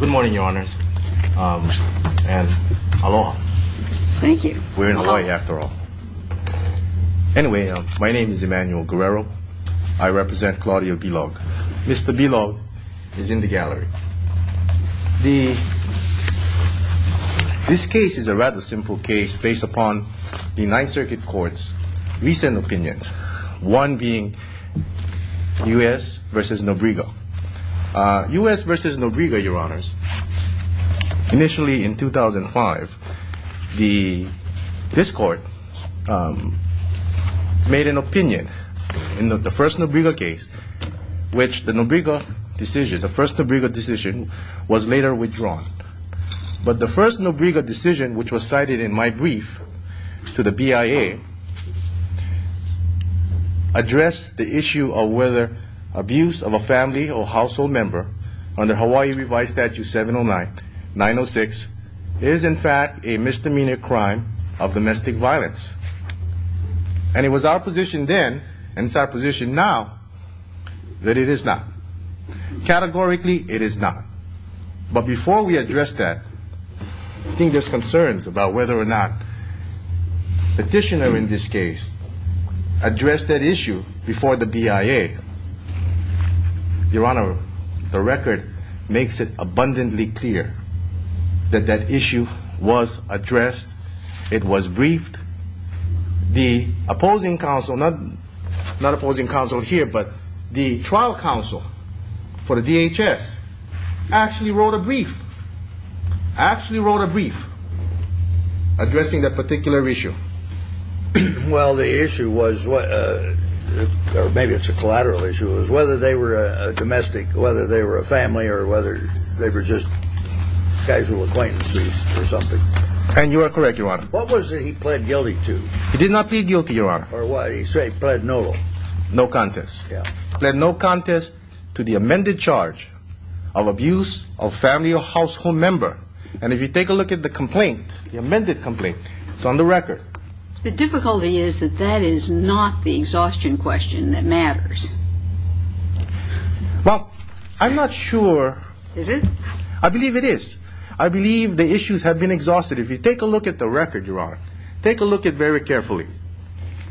Good morning your honors and aloha. Thank you. We're in Hawaii after all. Anyway, my name is Emmanuel Guerrero. I represent Claudio Bilog. Mr. Bilog is in the gallery. This case is a rather simple case based upon the Ninth Circuit Court's recent opinions, one being U.S. v. Nobriga. U.S. v. Nobriga, your honors, initially in 2005, this court made an opinion in the first Nobriga case, which the Nobriga decision, the first Nobriga decision, was later withdrawn. But the first Nobriga decision, which was cited in my brief to the BIA, addressed the issue of whether abuse of a family or household member under Hawaii Revised Statute 709-906 is in fact a misdemeanor crime of domestic violence. And it was our position then and it's our position now that it is not. Categorically, it is not. But before we address that, I think there's concerns about whether or not the petitioner in this case addressed that issue before the BIA. Your honor, the record makes it abundantly clear that that issue was addressed. It was briefed. The opposing counsel, not opposing counsel here, but the trial counsel for the DHS actually wrote a brief, actually wrote a brief addressing that particular issue. Well, the issue was, or maybe it's a collateral issue, was whether they were domestic, whether they were a family or whether they were just casual acquaintances or something. And you are correct, your honor. What was it he pled guilty to? He did not plead guilty, your honor. Or why did he say he pled no? No contest. Yeah. Pled no contest to the amended charge of abuse of family or household member. And if you take a look at the complaint, the amended complaint, it's on the record. The difficulty is that that is not the exhaustion question that matters. Well, I'm not sure. Is it? I believe it is. I believe the issues have been exhausted. If you take a look at the record, your honor, take a look at it very carefully.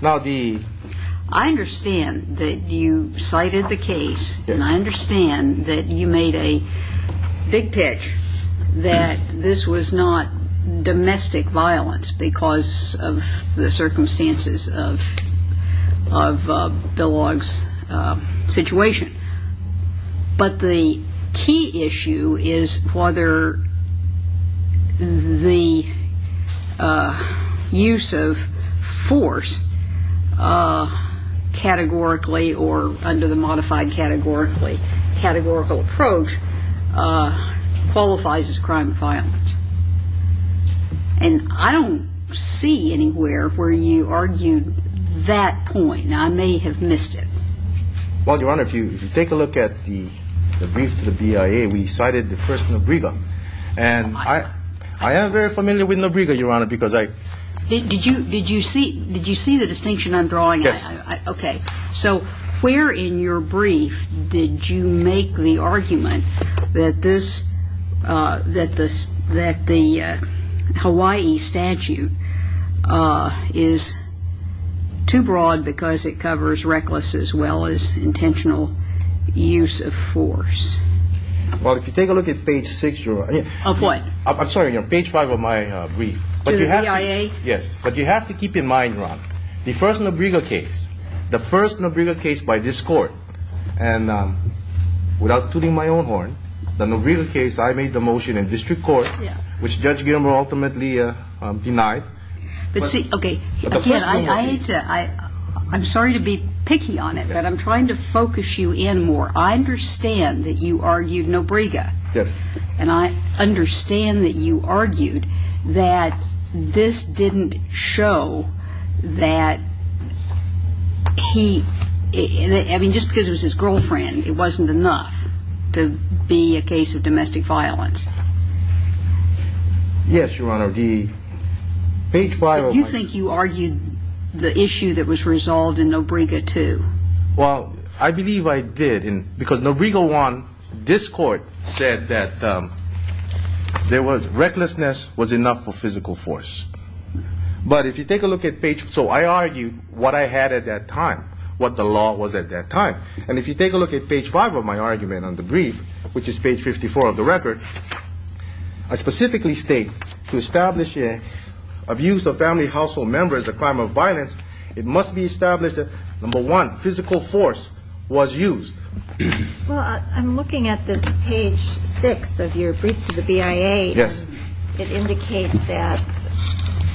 Now, the... I understand that you cited the case. Yes. And I understand that you made a big pitch that this was not domestic violence because of the circumstances of Bill Ogg's situation. But the key issue is whether the use of force categorically or under the modified categorical approach qualifies as crime of violence. And I don't see anywhere where you argued that point. I may have missed it. Well, your honor, if you take a look at the brief to the BIA, we cited the first Nobriga. And I am very familiar with Nobriga, your honor, because I... Did you see the distinction I'm drawing? Yes. So where in your brief did you make the argument that the Hawaii statute is too broad because it covers reckless as well as intentional use of force? Well, if you take a look at page six, your honor... Of what? I'm sorry, page five of my brief. To the BIA? Yes. But you have to keep in mind, your honor, the first Nobriga case, the first Nobriga case by this court, and without tooting my own horn, the Nobriga case, I made the motion in district court, which Judge Gilmer ultimately denied. But see, okay, again, I hate to... I'm sorry to be picky on it, but I'm trying to focus you in more. I understand that you argued Nobriga. Yes. And I understand that you argued that this didn't show that he... I mean, just because it was his girlfriend, it wasn't enough to be a case of domestic violence. Yes, your honor. The page five of my... You think you argued the issue that was resolved in Nobriga too? Well, I believe I did, because Nobriga one, this court said that there was... Recklessness was enough for physical force. But if you take a look at page... So I argued what I had at that time, what the law was at that time. And if you take a look at page five of my argument on the brief, which is page 54 of the record, I specifically state... Abuse of family household members is a crime of violence. It must be established that, number one, physical force was used. Well, I'm looking at this page six of your brief to the BIA. Yes. It indicates that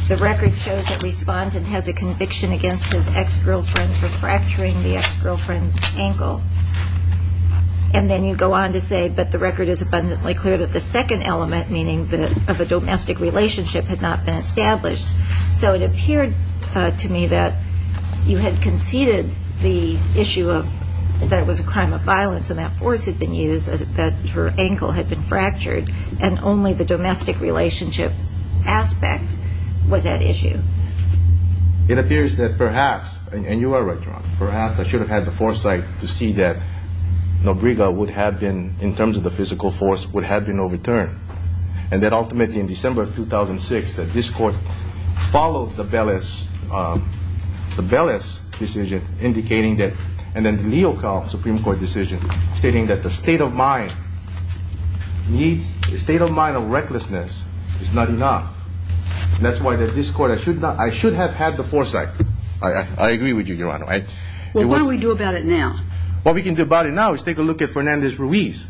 the record shows that respondent has a conviction against his ex-girlfriend for fracturing the ex-girlfriend's ankle. And then you go on to say, but the record is abundantly clear that the second element, meaning of a domestic relationship, had not been established. So it appeared to me that you had conceded the issue of that it was a crime of violence and that force had been used, that her ankle had been fractured, and only the domestic relationship aspect was at issue. It appears that perhaps, and you are right, John, perhaps I should have had the foresight to see that Nobriga would have been, in terms of the physical force, would have been overturned. And that ultimately, in December of 2006, that this court followed the Bellis decision, indicating that, and then the Leal-Kauf Supreme Court decision, stating that the state of mind of recklessness is not enough. That's why this court, I should have had the foresight. I agree with you, Your Honor. Well, what do we do about it now? What we can do about it now is take a look at Fernandez-Ruiz.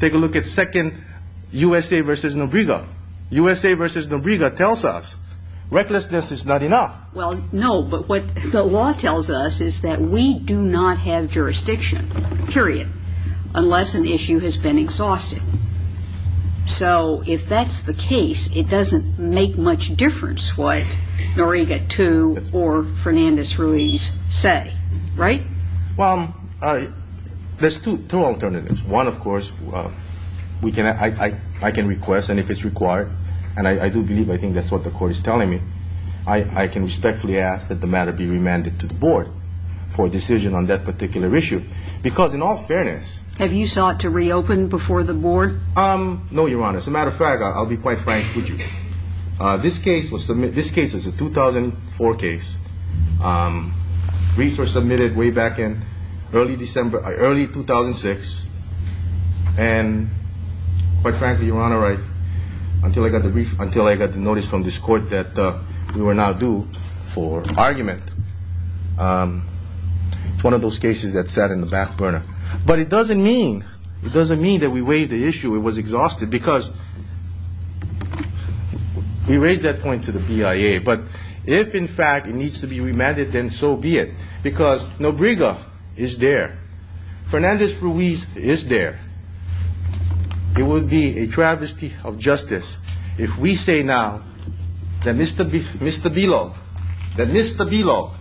Take a look at Second USA v. Nobriga. USA v. Nobriga tells us recklessness is not enough. Well, no, but what the law tells us is that we do not have jurisdiction, period, unless an issue has been exhausted. So if that's the case, it doesn't make much difference what Nobriga II or Fernandez-Ruiz say, right? Well, there's two alternatives. One, of course, I can request, and if it's required, and I do believe I think that's what the court is telling me, I can respectfully ask that the matter be remanded to the board for a decision on that particular issue. Because in all fairness— Have you sought to reopen before the board? No, Your Honor. As a matter of fact, I'll be quite frank with you. This case is a 2004 case. Ruiz was submitted way back in early 2006. And quite frankly, Your Honor, until I got the notice from this court that we were now due for argument, it's one of those cases that sat in the back burner. But it doesn't mean that we waived the issue. It was exhausted because we raised that point to the BIA. But if, in fact, it needs to be remanded, then so be it. Because Nobriga is there. Fernandez-Ruiz is there. It would be a travesty of justice if we say now that Mr. Bilo,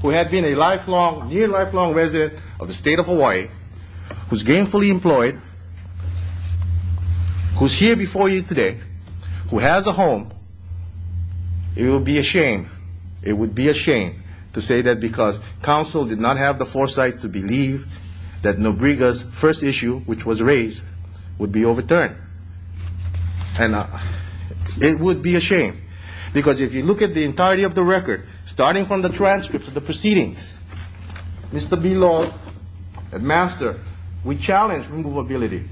who had been a near lifelong resident of the state of Hawaii, who's gainfully employed, who's here before you today, who has a home, it would be a shame. It would be a shame to say that because counsel did not have the foresight to believe that Nobriga's first issue, which was raised, would be overturned. And it would be a shame. Because if you look at the entirety of the record, starting from the transcripts of the proceedings, Mr. Bilo, Master, we challenged removability,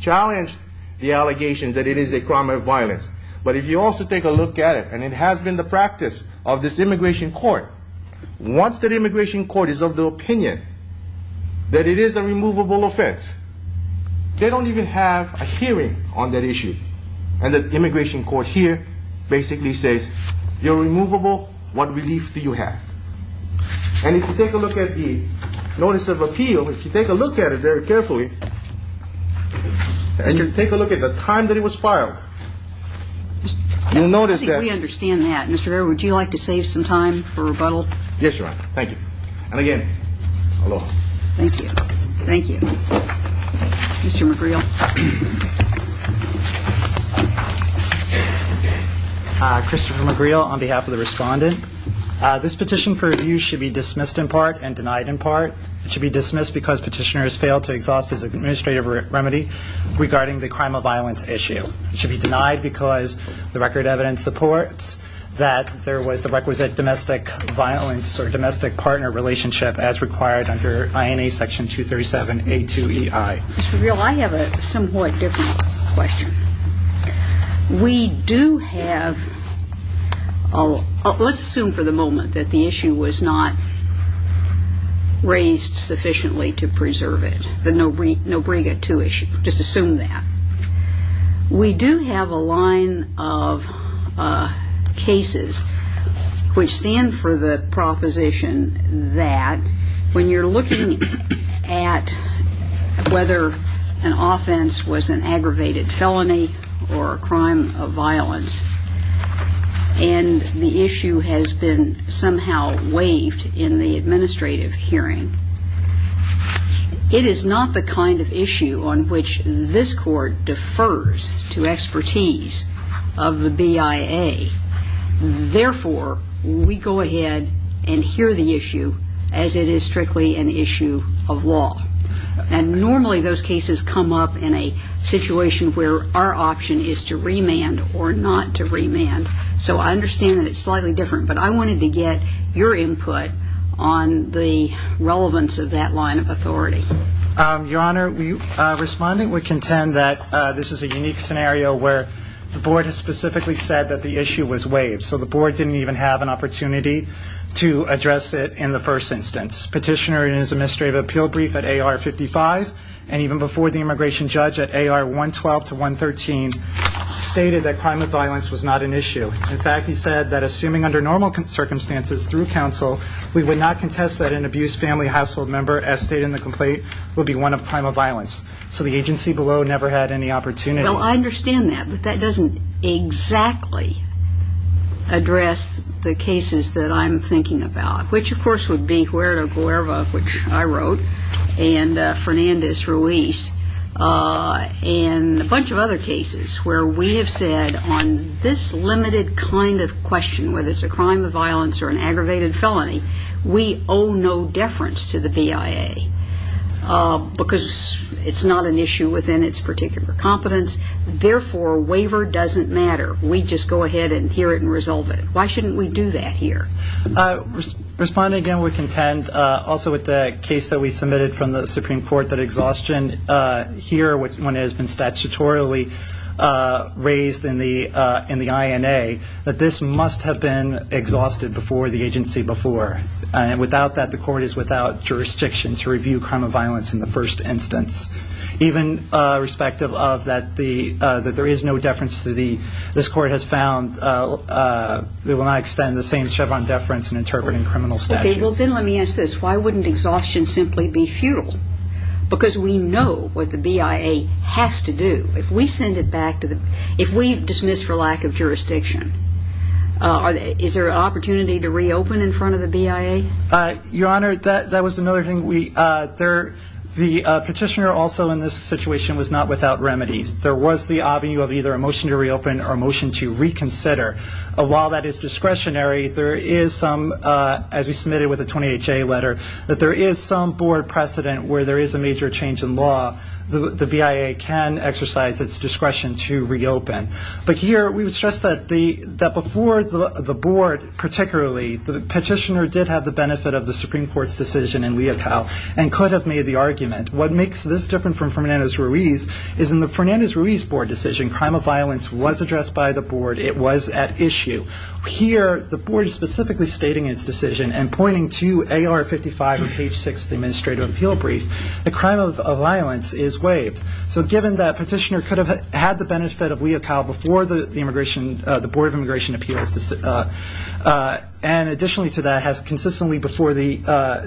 challenged the allegation that it is a crime of violence. But if you also take a look at it, and it has been the practice of this immigration court, once the immigration court is of the opinion that it is a removable offense, they don't even have a hearing on that issue. And the immigration court here basically says, you're removable. What relief do you have? And if you take a look at the notice of appeal, if you take a look at it very carefully, and you take a look at the time that it was filed, you'll notice that... I think we understand that. Mr. Rivera, would you like to save some time for rebuttal? Yes, Your Honor. Thank you. And again, aloha. Thank you. Thank you. Mr. McGreal. Christopher McGreal on behalf of the respondent. This petition for review should be dismissed in part and denied in part. It should be dismissed because petitioner has failed to exhaust his administrative remedy regarding the crime of violence issue. It should be denied because the record evidence supports that there was the requisite domestic violence or domestic partner relationship as required under INA Section 237A2EI. Mr. McGreal, I have a somewhat different question. We do have... Let's assume for the moment that the issue was not raised sufficiently to preserve it, the Nobrega II issue. Just assume that. We do have a line of cases which stand for the proposition that when you're looking at whether an offense was an aggravated felony or a crime of violence and the issue has been somehow waived in the administrative hearing, it is not the kind of issue on which this Court defers to expertise of the BIA. Therefore, we go ahead and hear the issue as it is strictly an issue of law. And normally those cases come up in a situation where our option is to remand or not to remand. So I understand that it's slightly different. But I wanted to get your input on the relevance of that line of authority. Your Honor, the respondent would contend that this is a unique scenario where the Board has specifically said that the issue was waived. So the Board didn't even have an opportunity to address it in the first instance. Petitioner in his administrative appeal brief at AR 55 and even before the immigration judge at AR 112 to 113 stated that crime of violence was not an issue. In fact, he said that assuming under normal circumstances through counsel, we would not contest that an abused family household member as stated in the complaint would be one of crime of violence. So the agency below never had any opportunity. Well, I understand that. But that doesn't exactly address the cases that I'm thinking about, which of course would be Huerta Guevara, which I wrote, and Fernandez Ruiz, and a bunch of other cases where we have said on this limited kind of question, whether it's a crime of violence or an aggravated felony, we owe no deference to the BIA because it's not an issue within its particular competence. Therefore, a waiver doesn't matter. We just go ahead and hear it and resolve it. Why shouldn't we do that here? Respondent, again, would contend also with the case that we submitted from the Supreme Court that exhaustion here when it has been statutorily raised in the INA, that this must have been exhausted before the agency before. Without that, the court is without jurisdiction to review crime of violence in the first instance. Even respective of that there is no deference to the – this court has found it will not extend the same Chevron deference in interpreting criminal statutes. Okay, well then let me ask this. Why wouldn't exhaustion simply be futile? Because we know what the BIA has to do. If we send it back to the – if we dismiss for lack of jurisdiction, is there an opportunity to reopen in front of the BIA? Your Honor, that was another thing. The petitioner also in this situation was not without remedies. There was the avenue of either a motion to reopen or a motion to reconsider. While that is discretionary, there is some, as we submitted with the 20HA letter, that there is some board precedent where there is a major change in law. The BIA can exercise its discretion to reopen. But here we would stress that before the board particularly, the petitioner did have the benefit of the Supreme Court's decision in Leopold and could have made the argument. What makes this different from Fernandez-Ruiz is in the Fernandez-Ruiz board decision, crime of violence was addressed by the board. It was at issue. Here the board is specifically stating its decision and pointing to AR-55 on page 6 of the administrative appeal brief. The crime of violence is waived. So given that petitioner could have had the benefit of Leocal before the board of immigration appeals, and additionally to that has consistently before the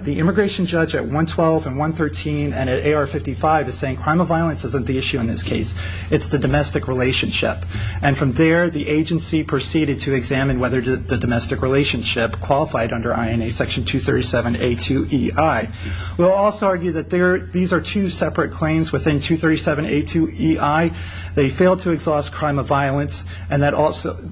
immigration judge at 112 and 113 and at AR-55 is saying crime of violence isn't the issue in this case. It's the domestic relationship. And from there the agency proceeded to examine whether the domestic relationship qualified under INA Section 237A2EI. We'll also argue that these are two separate claims within 237A2EI. They failed to exhaust crime of violence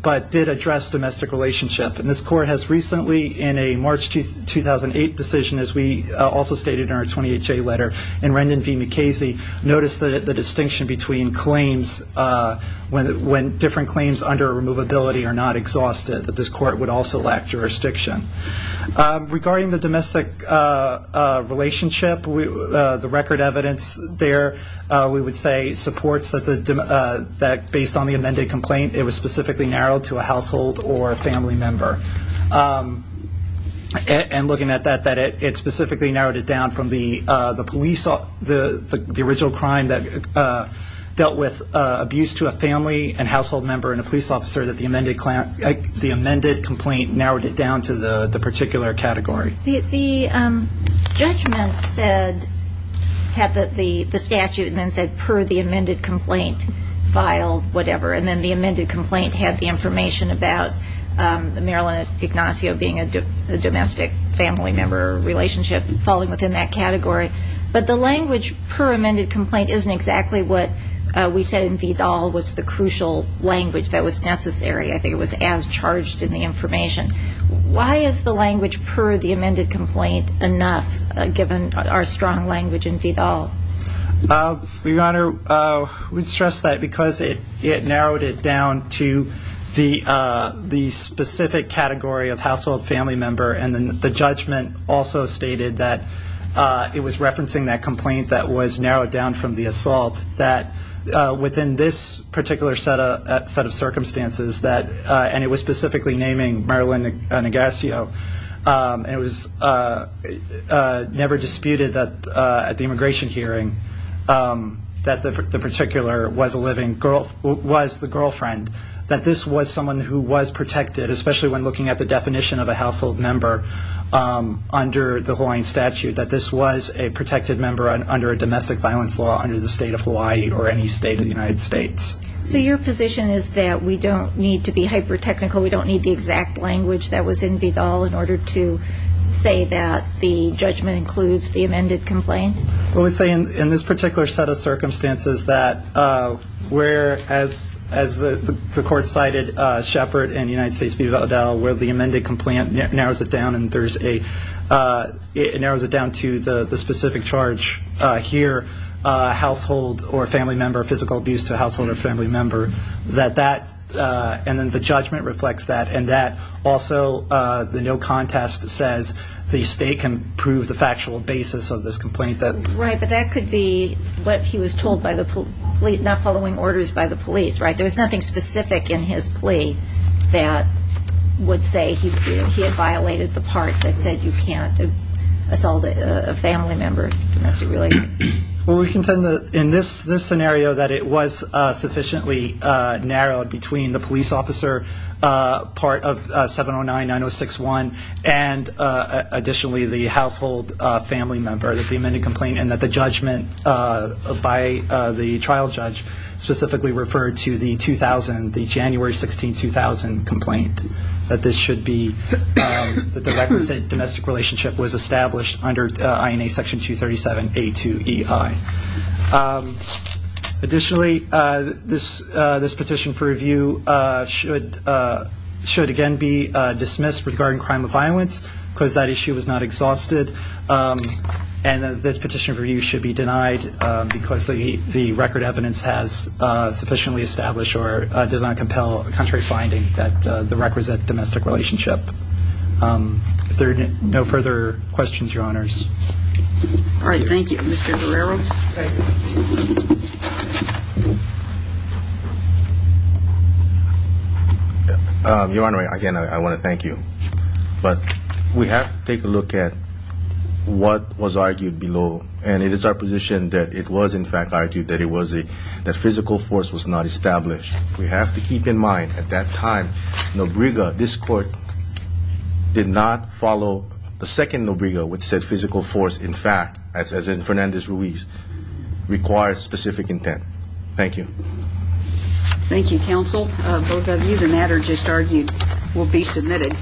but did address domestic relationship. And this court has recently in a March 2008 decision, as we also stated in our 20HA letter, in Rendon v. McKasey noticed the distinction between claims when different claims under a removability are not exhausted, that this court would also lack jurisdiction. Regarding the domestic relationship, the record evidence there, we would say, supports that based on the amended complaint, it was specifically narrowed to a household or a family member. And looking at that, it specifically narrowed it down from the police, the original crime that dealt with abuse to a family and household member and a police officer that the amended complaint narrowed it down to the particular category. The judgment said, had the statute and then said per the amended complaint, file, whatever, and then the amended complaint had the information about Marilyn Ignacio being a domestic family member or a relationship falling within that category. But the language per amended complaint isn't exactly what we said in Vidal was the crucial language that was necessary. I think it was as charged in the information. Why is the language per the amended complaint enough, given our strong language in Vidal? Your Honor, we would stress that because it narrowed it down to the specific category of household family member, and then the judgment also stated that it was referencing that complaint that was narrowed down from the assault, that within this particular set of circumstances, and it was specifically naming Marilyn Ignacio, and it was never disputed at the immigration hearing that the particular was the girlfriend, that this was someone who was protected, especially when looking at the definition of a household member under the Hawaiian statute, that this was a protected member under a domestic violence law under the state of Hawaii or any state of the United States. So your position is that we don't need to be hyper-technical, we don't need the exact language that was in Vidal in order to say that the judgment includes the amended complaint? Well, we say in this particular set of circumstances that where, as the court cited, Shepard and United States v. Vidal, where the amended complaint narrows it down to the specific charge here, household or family member, physical abuse to a household or family member, and then the judgment reflects that, and that also the no contest says the state can prove the factual basis of this complaint. Right, but that could be what he was told by the police, not following orders by the police, right? There was nothing specific in his plea that would say he had violated the part that said you can't assault a family member. Well, we contend that in this scenario that it was sufficiently narrowed between the police officer part of 709-906-1 and additionally the household family member, the amended complaint, and that the judgment by the trial judge specifically referred to the 2000, the January 16, 2000 complaint, that this should be, that the requisite domestic relationship was established under INA Section 237A2EI. Additionally, this petition for review should again be dismissed regarding crime of violence because that issue was not exhausted, and this petition for review should be denied because the record evidence has sufficiently established or does not compel a contrary finding that the requisite domestic relationship. If there are no further questions, Your Honors. All right. Thank you. Mr. Guerrero. Your Honor, again, I want to thank you, but we have to take a look at what was argued below, and it is our position that it was in fact argued that physical force was not established. We have to keep in mind at that time Nobriga, this Court, did not follow the second Nobriga which said physical force, in fact, as in Fernandez-Ruiz, required specific intent. Thank you. Thank you, Counsel. Both of you, the matter just argued will be submitted.